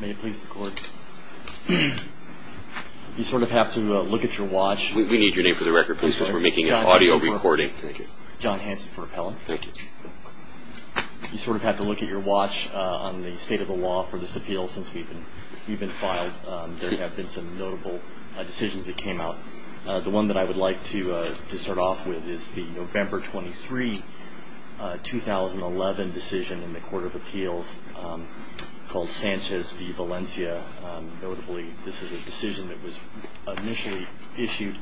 May it please the Court. You sort of have to look at your watch. We need your name for the record, please, since we're making an audio recording. John Hanson for Appellant. Thank you. You sort of have to look at your watch on the state of the law for this appeal since we've been filed. There have been some notable decisions that came out. The one that I would like to start off with is the November 23, 2011 decision in the Court of Appeals called Sanchez v. Valencia. Notably, this is a decision that was initially issued,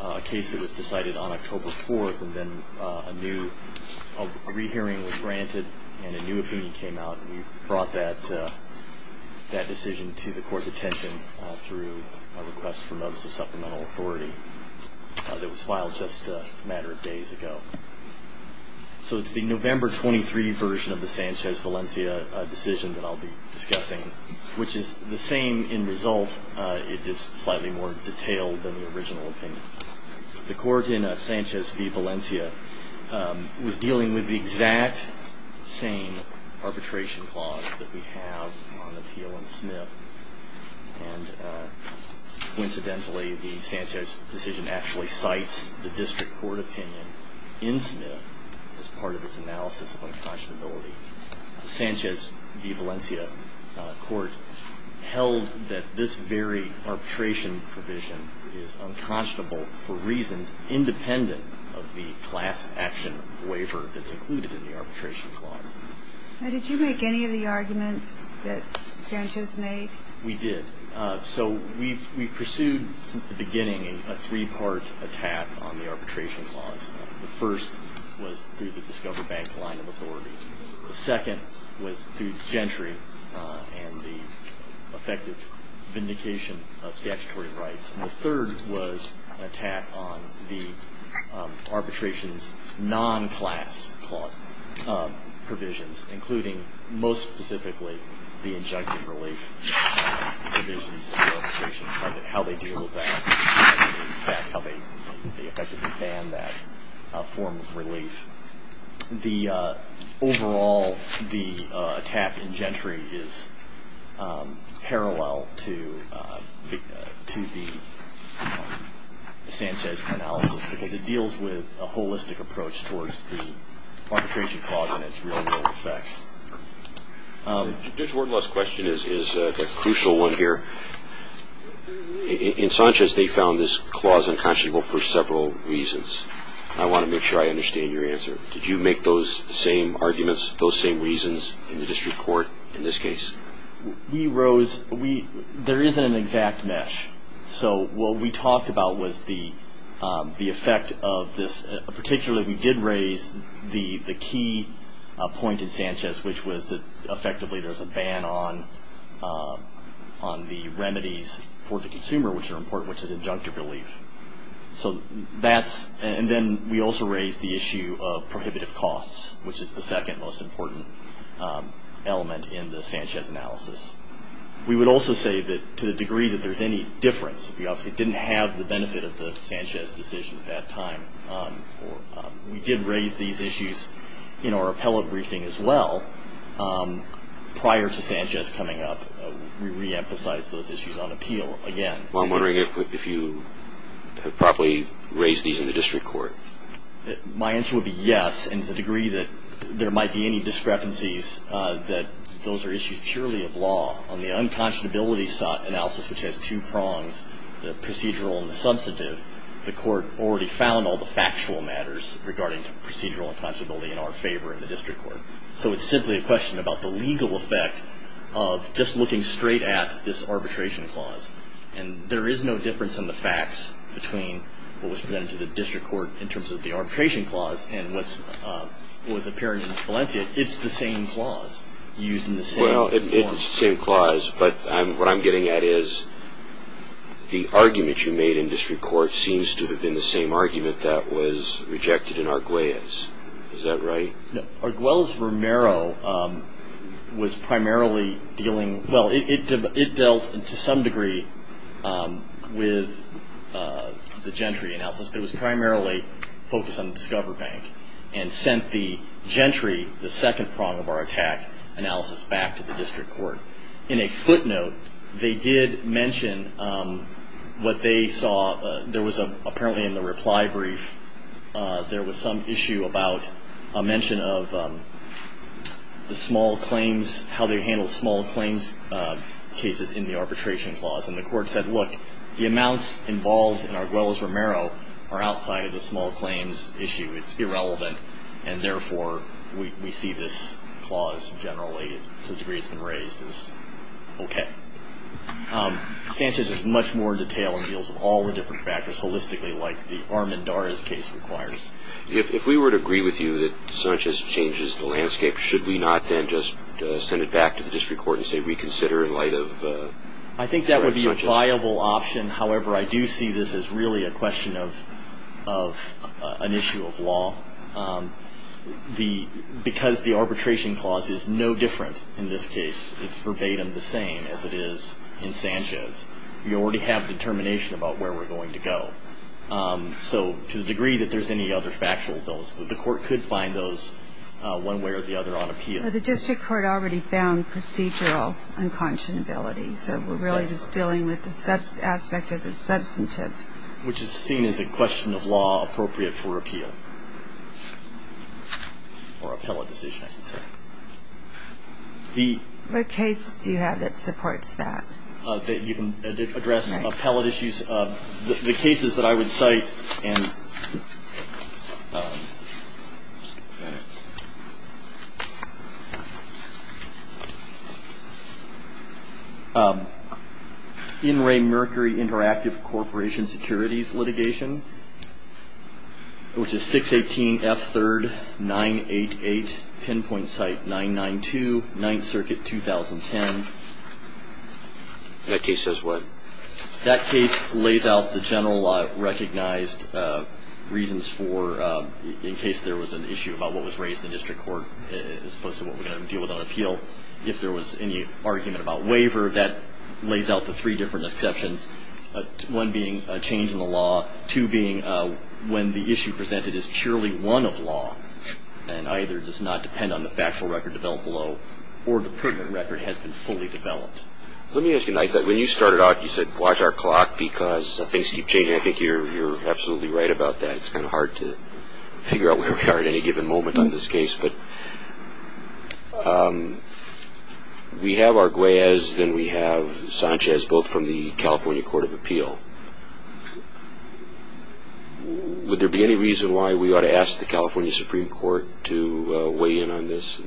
a case that was decided on October 4, and then a new re-hearing was granted and a new opinion came out. We brought that decision to the Court's attention through a request for notice of supplemental authority that was filed just a matter of days ago. So it's the November 23 version of the Sanchez v. Valencia decision that I'll be discussing, which is the same in result. It is slightly more detailed than the original opinion. The Court in Sanchez v. Valencia was dealing with the exact same arbitration clause that we have on Appeal and Smith. And coincidentally, the Sanchez decision actually cites the district court opinion in Smith as part of its analysis of unconscionability. The Sanchez v. Valencia court held that this very arbitration provision is unconscionable for reasons independent of the class action waiver that's included in the arbitration clause. Now, did you make any of the arguments that Sanchez made? We did. So we pursued, since the beginning, a three-part attack on the arbitration clause. The first was through the Discover Bank line of authority. The second was through Gentry and the effective vindication of statutory rights. And the third was an attack on the arbitration's non-class provisions, including most specifically the injunctive relief provisions of the arbitration, how they deal with that, how they effectively ban that form of relief. Overall, the attack in Gentry is parallel to the Sanchez analysis because it deals with a holistic approach towards the arbitration clause and its real-world effects. Judge Warden, the last question is a crucial one here. In Sanchez, they found this clause unconscionable for several reasons. I want to make sure I understand your answer. Did you make those same arguments, those same reasons in the district court in this case? We rose – there isn't an exact mesh. So what we talked about was the effect of this. Particularly, we did raise the key point in Sanchez, which was that effectively there's a ban on the remedies for the consumer, which are important, which is injunctive relief. So that's – and then we also raised the issue of prohibitive costs, which is the second most important element in the Sanchez analysis. We would also say that to the degree that there's any difference, we obviously didn't have the benefit of the Sanchez decision at that time. We did raise these issues in our appellate briefing as well. Prior to Sanchez coming up, we reemphasized those issues on appeal again. Well, I'm wondering if you have properly raised these in the district court. My answer would be yes, and to the degree that there might be any discrepancies that those are issues purely of law. On the unconscionability analysis, which has two prongs, the procedural and the substantive, the court already found all the factual matters regarding procedural unconscionability in our favor in the district court. So it's simply a question about the legal effect of just looking straight at this arbitration clause. And there is no difference in the facts between what was presented to the district court in terms of the arbitration clause and what was appearing in Valencia. It's the same clause used in the same form. Well, it's the same clause, but what I'm getting at is the argument you made in district court seems to have been the same argument that was rejected in Arguelles. Is that right? No. Arguelles-Romero was primarily dealing – well, it dealt to some degree with the Gentry analysis, but it was primarily focused on Discover Bank and sent the Gentry, the second prong of our attack analysis, back to the district court. In a footnote, they did mention what they saw. There was apparently in the reply brief, there was some issue about a mention of the small claims, how they handled small claims cases in the arbitration clause. And the court said, look, the amounts involved in Arguelles-Romero are outside of the small claims issue. It's irrelevant. And therefore, we see this clause generally to the degree it's been raised as okay. Sanchez does much more detail and deals with all the different factors holistically like the Armendariz case requires. If we were to agree with you that Sanchez changes the landscape, should we not then just send it back to the district court and say reconsider in light of Sanchez? I think that would be a viable option. However, I do see this as really a question of an issue of law. Because the arbitration clause is no different in this case, it's verbatim the same as it is in Sanchez. We already have determination about where we're going to go. So to the degree that there's any other factual bills, the court could find those one way or the other on appeal. The district court already found procedural unconscionability. So we're really just dealing with the aspect of the substantive. Which is seen as a question of law appropriate for appeal or appellate decision, I should say. What case do you have that supports that? You can address appellate issues. The cases that I would cite and... In Ray Mercury Interactive Corporation Securities litigation, which is 618 F3rd 988, pinpoint site 992, 9th Circuit, 2010. That case says what? That case lays out the general recognized reasons for, in case there was an issue about what was raised in the district court, as opposed to what we're going to deal with on appeal. If there was any argument about waiver, that lays out the three different exceptions. One being a change in the law. Two being when the issue presented is purely one of law and either does not depend on the factual record developed below or the prudent record has been fully developed. Let me ask you, when you started out you said watch our clock because things keep changing. I think you're absolutely right about that. It's kind of hard to figure out where we are at any given moment on this case. We have Arguelles, then we have Sanchez, both from the California Court of Appeal. Would there be any reason why we ought to ask the California Supreme Court to weigh in on this?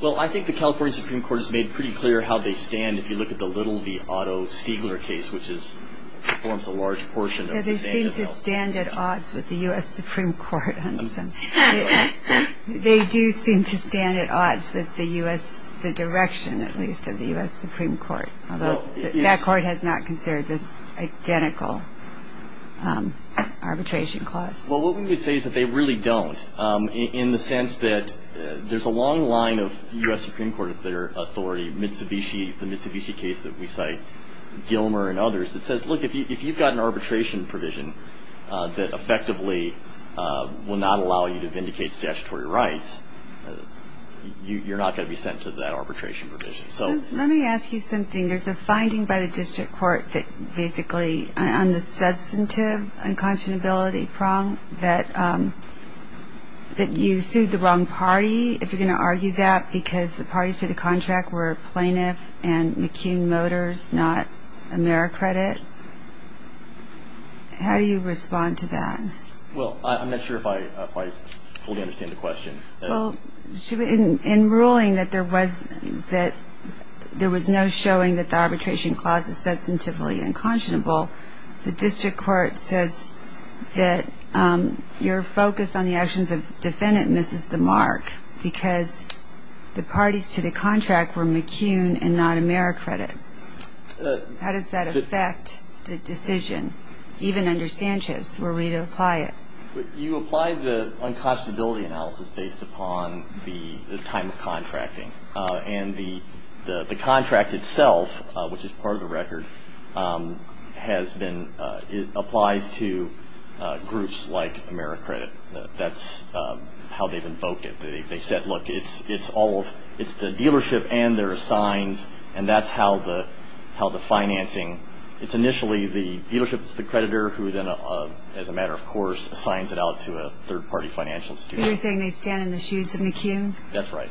Well, I think the California Supreme Court has made pretty clear how they stand. If you look at the Little v. Otto Stiegler case, which forms a large portion... They seem to stand at odds with the U.S. Supreme Court. They do seem to stand at odds with the direction, at least, of the U.S. Supreme Court, although that court has not considered this identical arbitration clause. Well, what we would say is that they really don't, in the sense that there's a long line of U.S. Supreme Court of their authority, Mitsubishi, the Mitsubishi case that we cite, Gilmer and others, that says, look, if you've got an arbitration provision that effectively will not allow you to vindicate statutory rights, you're not going to be sent to that arbitration provision. Let me ask you something. There's a finding by the district court that basically on the substantive unconscionability prong that you sued the wrong party, if you're going to argue that, because the parties to the contract were Plaintiff and McKeon Motors, not AmeriCredit. How do you respond to that? Well, I'm not sure if I fully understand the question. Well, in ruling that there was no showing that the arbitration clause is substantively unconscionable, the district court says that your focus on the actions of the defendant misses the mark because the parties to the contract were McKeon and not AmeriCredit. How does that affect the decision, even under Sanchez, were we to apply it? You apply the unconscionability analysis based upon the time of contracting. And the contract itself, which is part of the record, has been ñ it applies to groups like AmeriCredit. That's how they've invoked it. They've said, look, it's the dealership and their assigns, and that's how the financing ñ it's initially the dealership that's the creditor who then, as a matter of course, assigns it out to a third-party financial institution. You're saying they stand in the shoes of McKeon? That's right.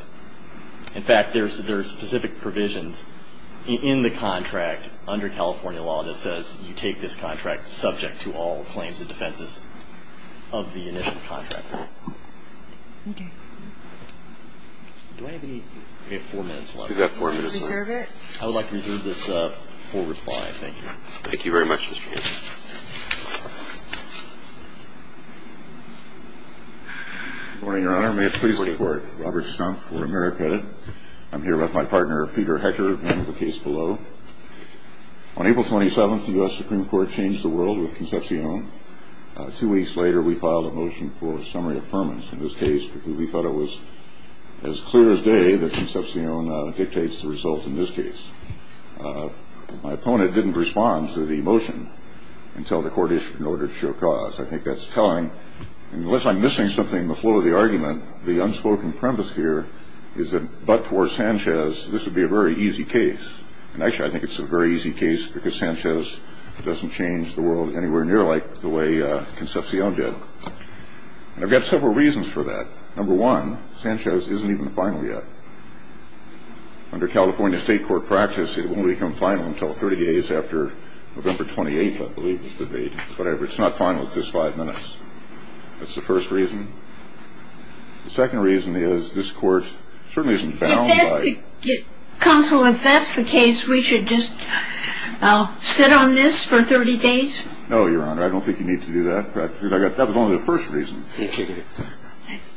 In fact, there are specific provisions in the contract under California law that says you take this contract subject to all claims and defenses of the initial contractor. Okay. Do I have any ñ we have four minutes left. We've got four minutes left. Reserve it? I would like to reserve this for reply. Thank you. Thank you very much, Mr. Chairman. Good morning, Your Honor. May it please the Court. Robert Stumpf for AmeriCredit. I'm here with my partner, Peter Hecker, and the case below. On April 27th, the U.S. Supreme Court changed the world with Concepcion. Two weeks later, we filed a motion for summary affirmance in this case because we thought it was as clear as day that Concepcion dictates the result in this case. My opponent didn't respond to the motion until the court issued an order to show cause. I think that's telling. Unless I'm missing something in the flow of the argument, the unspoken premise here is that but for Sanchez, this would be a very easy case. And actually, I think it's a very easy case because Sanchez doesn't change the world anywhere near like the way Concepcion did. And I've got several reasons for that. Number one, Sanchez isn't even final yet. Under California state court practice, it won't become final until 30 days after November 28th, I believe, but it's not final at this five minutes. That's the first reason. The second reason is this court certainly isn't bound by ñ Counsel, if that's the case, we should just sit on this for 30 days? No, Your Honor. I don't think you need to do that. That was only the first reason.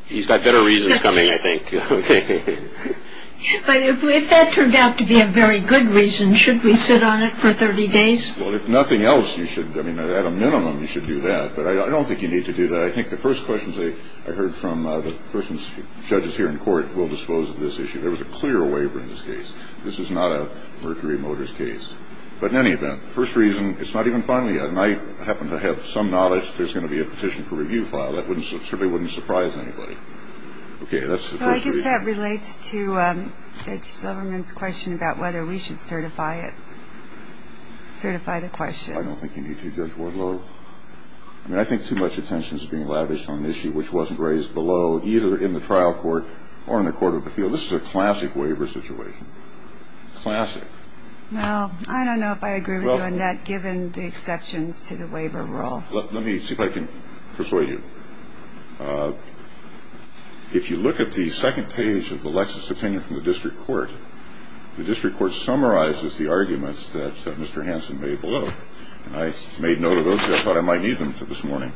He's got better reasons coming, I think. But if that turned out to be a very good reason, should we sit on it for 30 days? Well, if nothing else, you should. I mean, at a minimum, you should do that. But I don't think you need to do that. I think the first questions I heard from the persons ñ judges here in court will dispose of this issue. There was a clear waiver in this case. This is not a Mercury Motors case. But in any event, first reason, it's not even final yet, and I happen to have some knowledge there's going to be a petition for review file. That certainly wouldn't surprise anybody. Okay, that's the first reason. Well, I guess that relates to Judge Silverman's question about whether we should certify it, certify the question. I don't think you need to, Judge Wardlow. I mean, I think too much attention is being lavished on an issue which wasn't raised below, either in the trial court or in the court of appeal. So this is a classic waiver situation, classic. Well, I don't know if I agree with you on that, given the exceptions to the waiver rule. Let me see if I can persuade you. If you look at the second page of the Lexis opinion from the district court, the district court summarizes the arguments that Mr. Hanson made below. I made note of those because I thought I might need them for this morning.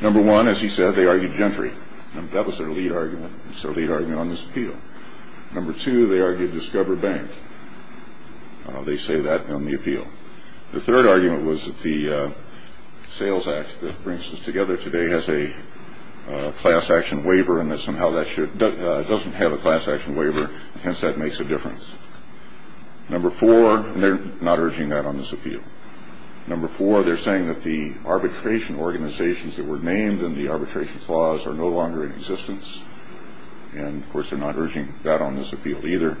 Number one, as he said, they argued gentry. That was their lead argument. It's their lead argument on this appeal. Number two, they argued Discover Bank. They say that on the appeal. The third argument was that the sales act that brings us together today has a class action waiver and that somehow that doesn't have a class action waiver, hence that makes a difference. Number four, they're not urging that on this appeal. Number four, they're saying that the arbitration organizations that were named in the arbitration clause are no longer in existence. And, of course, they're not urging that on this appeal either.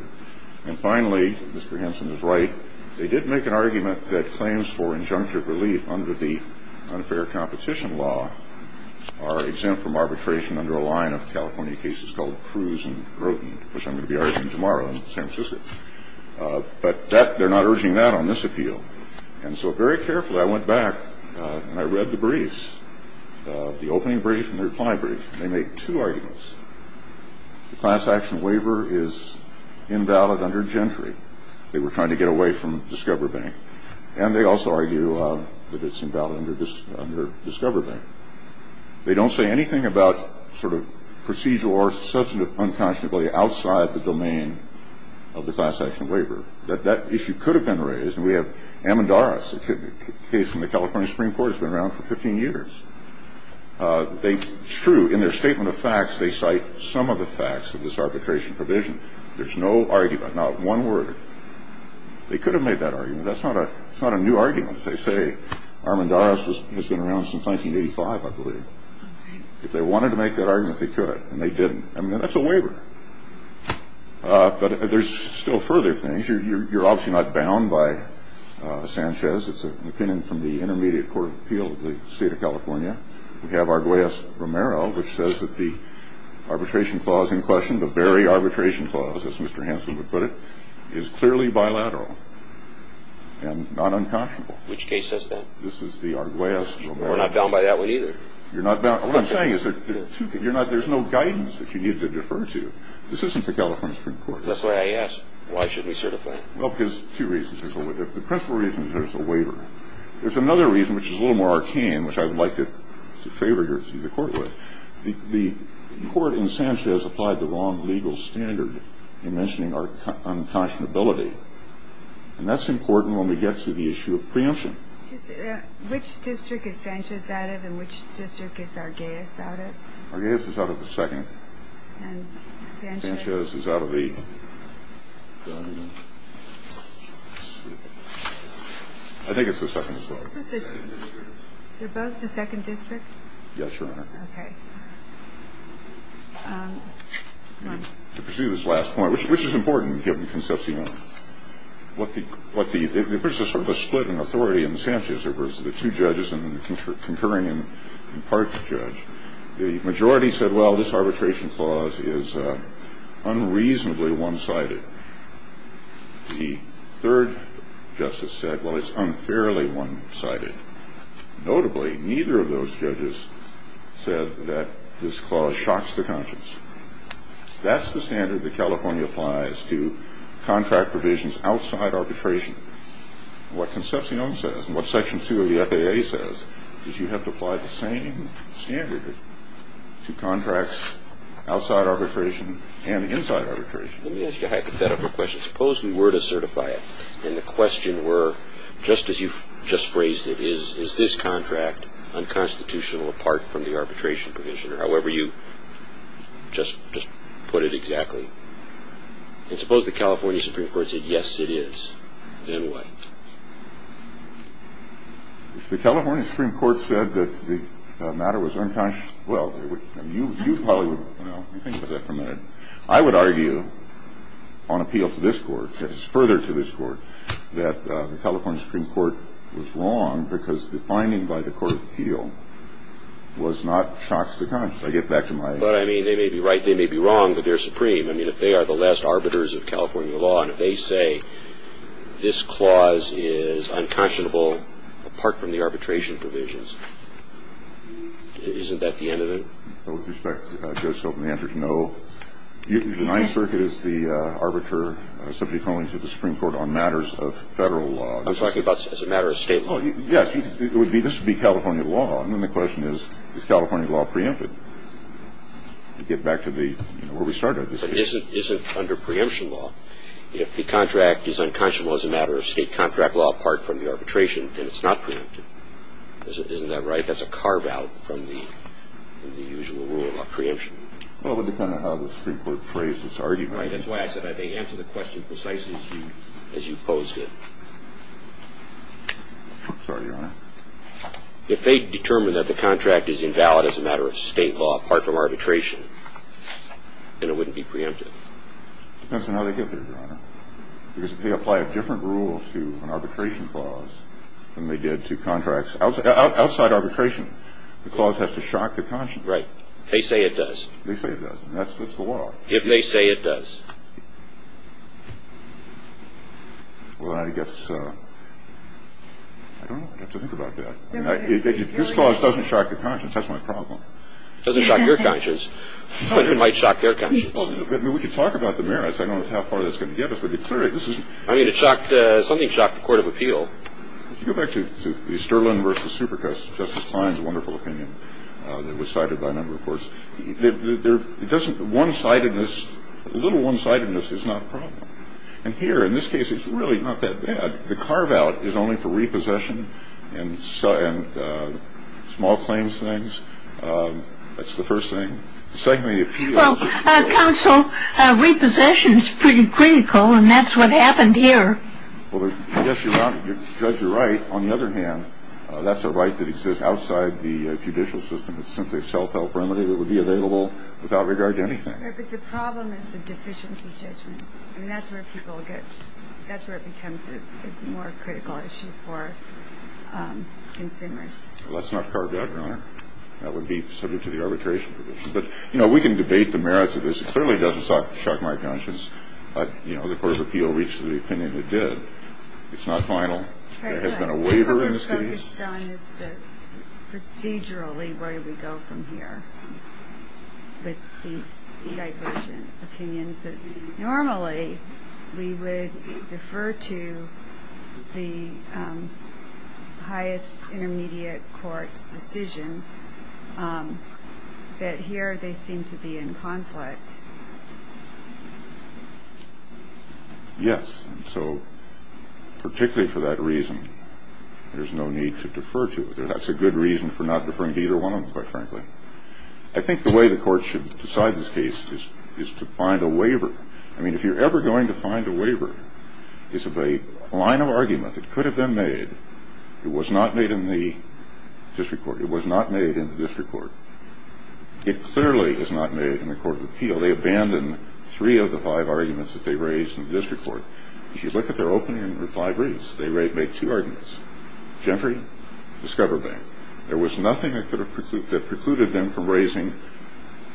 And finally, Mr. Hanson is right. They did make an argument that claims for injunctive relief under the unfair competition law are exempt from arbitration under a line of California cases called Cruz and Groten, which I'm going to be arguing tomorrow in San Francisco. But they're not urging that on this appeal. And so very carefully, I went back and I read the briefs, the opening brief and the reply brief. They make two arguments. The class action waiver is invalid under gentry. They were trying to get away from Discover Bank. And they also argue that it's invalid under Discover Bank. They don't say anything about sort of procedural or substantive unconscionably outside the domain of the class action waiver, that that issue could have been raised. And we have Amendaras, a case from the California Supreme Court that's been around for 15 years. It's true. In their statement of facts, they cite some of the facts of this arbitration provision. There's no argument, not one word. They could have made that argument. That's not a new argument. They say Amendaras has been around since 1985, I believe. If they wanted to make that argument, they could. And they didn't. I mean, that's a waiver. But there's still further things. You're obviously not bound by Sanchez. It's an opinion from the Intermediate Court of Appeal of the state of California. We have Arguellas-Romero, which says that the arbitration clause in question, the very arbitration clause, as Mr. Hanson would put it, is clearly bilateral and not unconscionable. Which case says that? This is the Arguellas-Romero. We're not bound by that one either. What I'm saying is there's no guidance that you need to defer to. This isn't the California Supreme Court. That's why I asked. Why should we certify? Well, because two reasons. The principal reason is there's a waiver. There's another reason, which is a little more arcane, which I would like to favor the court with. The court in Sanchez applied the wrong legal standard in mentioning unconscionability. And that's important when we get to the issue of preemption. Which district is Sanchez out of and which district is Arguellas out of? Arguellas is out of the second. And Sanchez? Sanchez is out of the third. I think it's the second as well. Is it both the second district? Yes, Your Honor. Okay. To pursue this last point, which is important, given Concepcion. There was a split in authority in Sanchez. There were the two judges and the concurring and impartial judge. The majority said, well, this arbitration clause is unreasonably one-sided. The third justice said, well, it's unfairly one-sided. Notably, neither of those judges said that this clause shocks the conscience. That's the standard that California applies to contract provisions outside arbitration. What Concepcion says and what Section 2 of the FAA says is you have to apply the same standard to contracts outside arbitration and inside arbitration. Let me ask you a hypothetical question. Suppose we were to certify it and the question were, just as you just phrased it, is this contract unconstitutional apart from the arbitration provision? Or however you just put it exactly. And suppose the California Supreme Court said, yes, it is. Then what? If the California Supreme Court said that the matter was unconscious, well, you probably would, you know, let me think about that for a minute. I would argue on appeal to this court, that is further to this court, that the California Supreme Court was wrong because the finding by the court of appeal was not shocks to conscience. I get back to my. But, I mean, they may be right, they may be wrong, but they're supreme. I mean, if they are the last arbiters of California law and if they say this clause is unconscionable apart from the arbitration provisions, isn't that the end of it? With respect, Judge, the answer is no. The Ninth Circuit is the arbiter subject only to the Supreme Court on matters of federal law. I'm talking about as a matter of state law. Yes. This would be California law. And then the question is, is California law preempted? Get back to the, you know, where we started. It isn't under preemption law. If the contract is unconscionable as a matter of state contract law apart from the arbitration, then it's not preempted. Isn't that right? That's a carve-out from the usual rule about preemption. Well, it would depend on how the Supreme Court phrased its argument. Right. That's why I said I think answer the question precisely as you posed it. Sorry, Your Honor. If they determine that the contract is invalid as a matter of state law apart from arbitration, then it wouldn't be preempted. Depends on how they get there, Your Honor. Because if they apply a different rule to an arbitration clause than they did to contracts outside arbitration, the clause has to shock the conscience. Right. They say it does. They say it does. And that's the law. If they say it does. Well, I guess I don't know. I have to think about that. This clause doesn't shock the conscience. That's my problem. It doesn't shock your conscience. It might shock your conscience. We could talk about the merits. I don't know how far that's going to get us. But clearly, this is. I mean, it shocked. Something shocked the Court of Appeal. If you go back to the Sterling v. Supercus, Justice Klein's wonderful opinion that was cited by a number of courts. It doesn't. One-sidedness. A little one-sidedness is not a problem. And here, in this case, it's really not that bad. The carve-out is only for repossession and small claims things. That's the first thing. Secondly, appeal. Well, counsel, repossession is pretty critical, and that's what happened here. Well, I guess you're right. Judge, you're right. On the other hand, that's a right that exists outside the judicial system. It's simply a self-help remedy that would be available without regard to anything. But the problem is the deficiency judgment. I mean, that's where people get – that's where it becomes a more critical issue for consumers. Well, that's not carved out, Your Honor. That would be subject to the arbitration provision. But, you know, we can debate the merits of this. It clearly doesn't shock my conscience. But, you know, the Court of Appeal reached the opinion it did. It's not final. There has been a waiver in this case. My concern is that procedurally, where do we go from here with these divergent opinions? Normally we would defer to the highest intermediate court's decision, but here they seem to be in conflict. Yes. And so particularly for that reason, there's no need to defer to it. That's a good reason for not deferring to either one of them, quite frankly. I think the way the Court should decide this case is to find a waiver. I mean, if you're ever going to find a waiver, it's a line of argument that could have been made. It was not made in the district court. It was not made in the district court. It clearly is not made in the Court of Appeal. So they abandon three of the five arguments that they raised in the district court. If you look at their opening five briefs, they make two arguments, Gentry, Discover Bank. There was nothing that precluded them from raising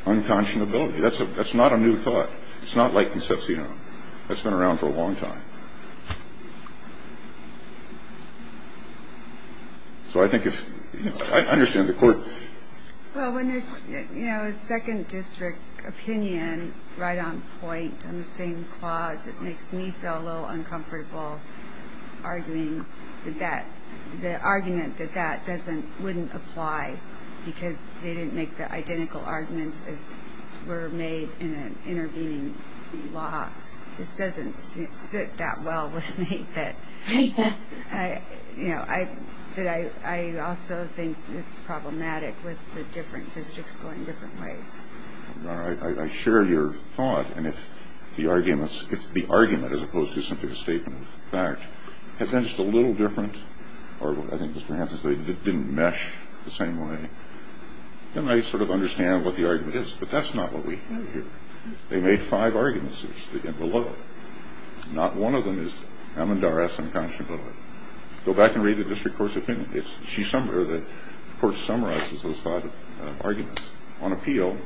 unconscionability. That's not a new thought. It's not like Concepcion. That's been around for a long time. So I think if you understand the court. Well, when there's, you know, a second district opinion right on point on the same clause, it makes me feel a little uncomfortable arguing that the argument that that wouldn't apply because they didn't make the identical arguments as were made in an intervening law. This doesn't sit that well with me. You know, I also think it's problematic with the different districts going different ways. All right. I share your thought. And if the arguments it's the argument as opposed to simply the statement of fact, it's just a little different. Or I think this perhaps is they didn't mesh the same way. And I sort of understand what the argument is. But that's not what we hear. They made five arguments below. Not one of them is Amandara's unconscionable. Go back and read the district court's opinion. She's somewhere. The court summarizes those five arguments on appeal.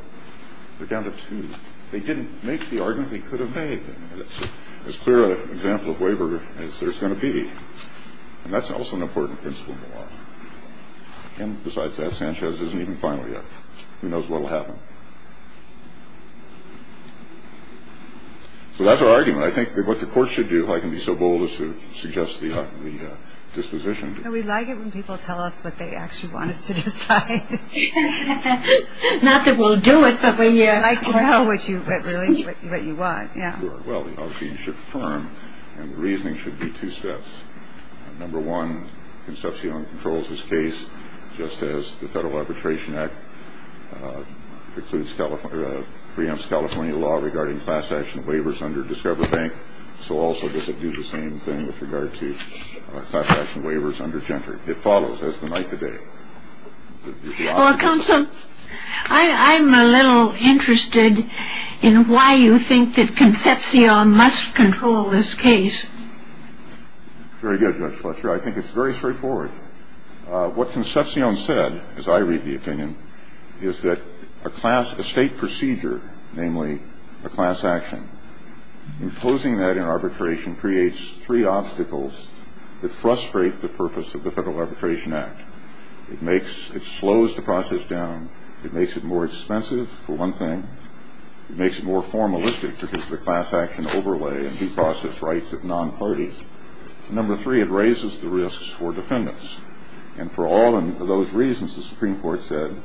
They're down to two. They didn't make the arguments they could have made. That's as clear an example of waiver as there's going to be. And that's also an important principle. And besides that, Sanchez isn't even final yet. Who knows what will happen? So that's our argument. I think what the court should do, if I can be so bold, is to suggest the disposition. We like it when people tell us what they actually want us to decide. Not that we'll do it, but we like to know what you really what you want. Yeah. Well, obviously, you should affirm. And the reasoning should be two steps. Number one, Concepcion controls this case, just as the Federal Arbitration Act precludes California, preempts California law regarding class-action waivers under Discover Bank. So also does it do the same thing with regard to class-action waivers under Gentry? It follows as the night today. Counsel, I'm a little interested in why you think that Concepcion must control this case. Very good, Judge Fletcher. I think it's very straightforward. What Concepcion said, as I read the opinion, is that a state procedure, namely a class-action, imposing that in arbitration creates three obstacles that frustrate the purpose of the Federal Arbitration Act. It slows the process down. It makes it more expensive, for one thing. It makes it more formalistic because of the class-action overlay and due process rights of non-parties. Number three, it raises the risks for defendants. And for all of those reasons, the Supreme Court said,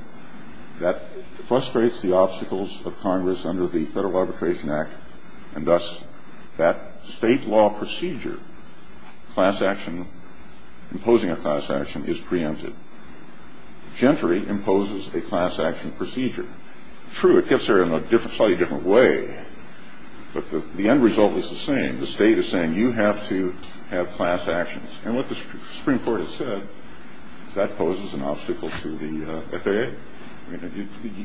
that frustrates the obstacles of Congress under the Federal Arbitration Act, and thus that state law procedure, class-action, imposing a class-action is preempted. Gentry imposes a class-action procedure. True, it gets there in a slightly different way, but the end result is the same. The state is saying, you have to have class-actions. And what the Supreme Court has said, that poses an obstacle to the FAA.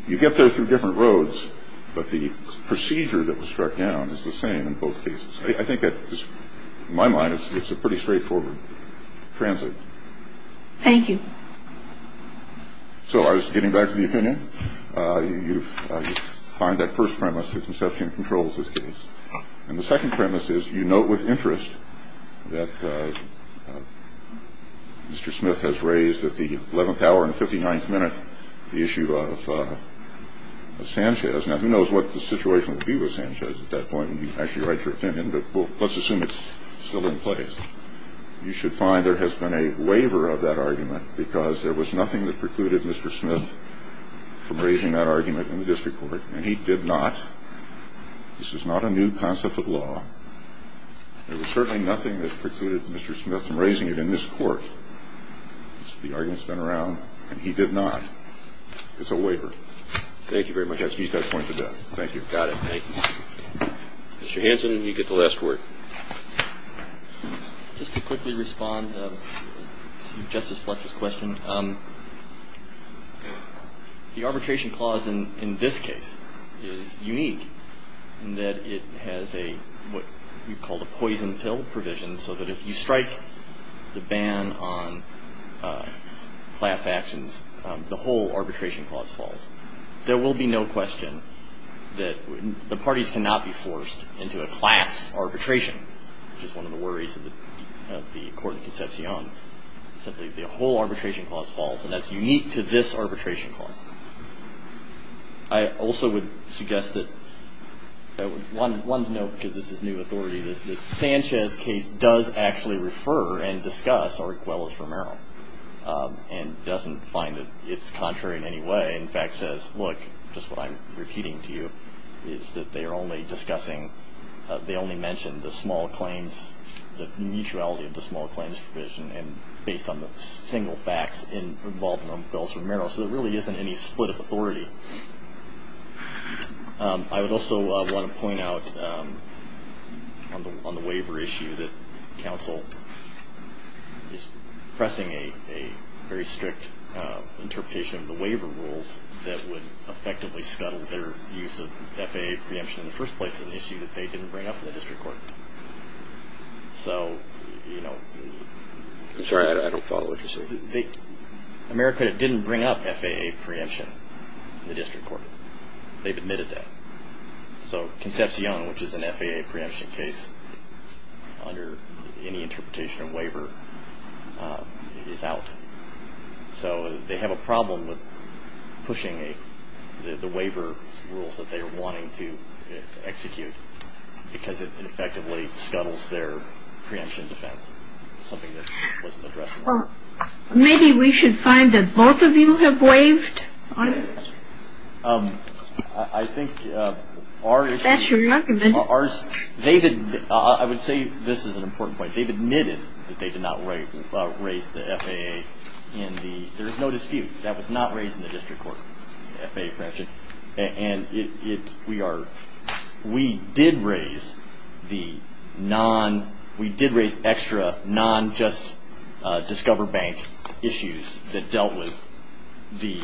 You get there through different roads, but the procedure that was struck down is the same in both cases. I think that, in my mind, it's a pretty straightforward transit. Thank you. So I was getting back to the opinion. You find that first premise that conception controls this case. And the second premise is, you note with interest, that Mr. Smith has raised at the 11th hour and 59th minute the issue of Sanchez. Now, who knows what the situation would be with Sanchez at that point, when you actually write your opinion, but let's assume it's still in place. You should find there has been a waiver of that argument, because there was nothing that precluded Mr. Smith from raising that argument in the district court. And he did not. This is not a new concept of law. There was certainly nothing that precluded Mr. Smith from raising it in this court. The argument's been around, and he did not. It's a waiver. Thank you very much. He's got a point to make. Thank you. Got it. Thank you. Mr. Hanson, you get the last word. Just to quickly respond to Justice Fletcher's question, the arbitration clause in this case is unique, in that it has what we call the poison pill provision, so that if you strike the ban on class actions, the whole arbitration clause falls. There will be no question that the parties cannot be forced into a class arbitration, which is one of the worries of the court in Concepcion. The whole arbitration clause falls, and that's unique to this arbitration clause. I also would suggest that I would want to note, because this is new authority, that Sanchez's case does actually refer and discuss Arguello's-Romero and doesn't find that it's contrary in any way. In fact, says, look, just what I'm repeating to you, is that they are only discussing, they only mention the small claims, the mutuality of the small claims provision, and based on the single facts involved in Arguello's-Romero, so there really isn't any split of authority. I would also want to point out on the waiver issue that counsel is pressing a very strict interpretation of the waiver rules that would effectively scuttle their use of FAA preemption. In the first place, it's an issue that they didn't bring up in the district court. So, you know- I'm sorry, I don't follow what you're saying. America didn't bring up FAA preemption in the district court. They've admitted that. So Concepcion, which is an FAA preemption case under any interpretation of waiver, is out. So they have a problem with pushing the waiver rules that they are wanting to execute because it effectively scuttles their preemption defense, something that wasn't addressed. Well, maybe we should find that both of you have waived on it. I think our issue- That's your argument. I would say this is an important point. They've admitted that they did not raise the FAA in the- There is no dispute. That was not raised in the district court, the FAA preemption. And we did raise the non- We did raise extra non-just Discover Bank issues that dealt with the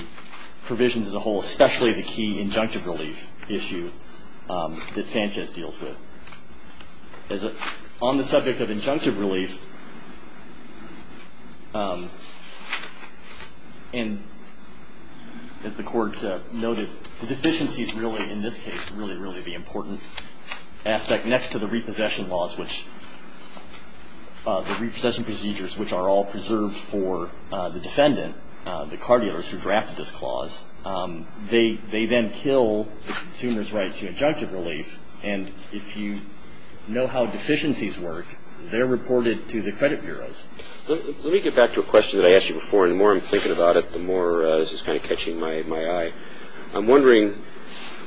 provisions as a whole, especially the key injunctive relief issue that Sanchez deals with. On the subject of injunctive relief, and as the court noted, the deficiency is really, in this case, really, really the important aspect next to the repossession laws, which- the repossession procedures, which are all preserved for the defendant, the card dealers who drafted this clause. They then kill the consumer's right to injunctive relief. And if you know how deficiencies work, they're reported to the credit bureaus. Let me get back to a question that I asked you before, and the more I'm thinking about it, the more this is kind of catching my eye. I'm wondering,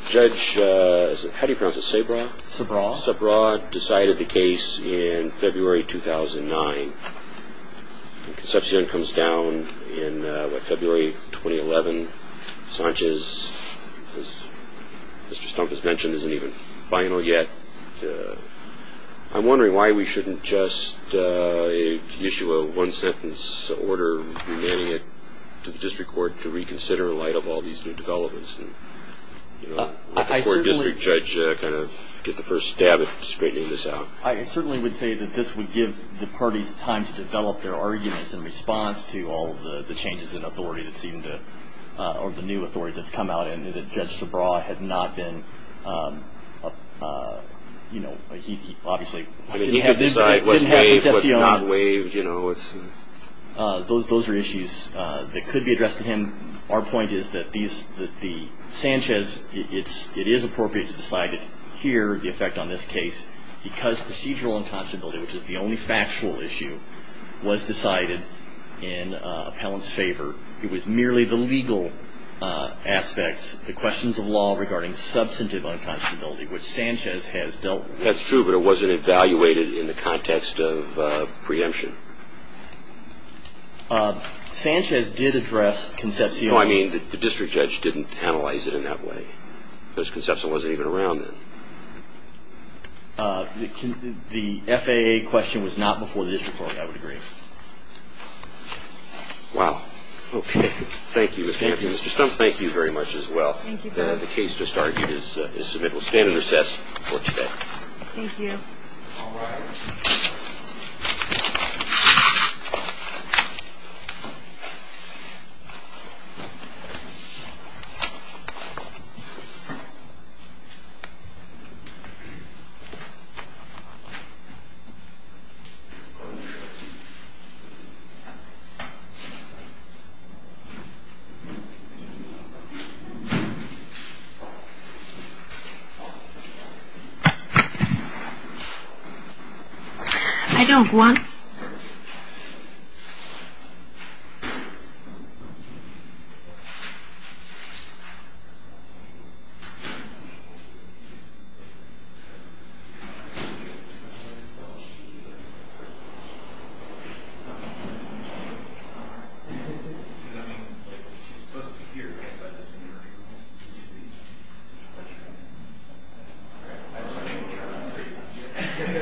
Judge- How do you pronounce this? Sabraw? Sabraw. Sabraw decided the case in February 2009. Concepcion comes down in February 2011. And Sanchez, as Mr. Stump has mentioned, isn't even final yet. I'm wondering why we shouldn't just issue a one-sentence order demanding it to the district court to reconsider in light of all these new developments. Let the court district judge kind of get the first stab at straightening this out. I certainly would say that this would give the parties time to develop their arguments in response to all the changes in authority that seem to- or the new authority that's come out and that Judge Sabraw had not been- he obviously- He could decide what's waived, what's not waived. Those are issues that could be addressed to him. Our point is that the Sanchez- it is appropriate to decide here the effect on this case because procedural unconscionability, which is the only factual issue, was decided in appellant's favor. It was merely the legal aspects, the questions of law regarding substantive unconscionability, which Sanchez has dealt with. That's true, but it wasn't evaluated in the context of preemption. Sanchez did address Concepcion. No, I mean the district judge didn't analyze it in that way. Because Concepcion wasn't even around then. The FAA question was not before the district court, I would agree. Wow. Okay. Thank you. Thank you, Mr. Stumpf. Thank you very much as well. The case just argued is submitted. We'll stand at recess for today. Thank you. Thank you. I don't want- Thank you. Thank you. Thank you. Thank you.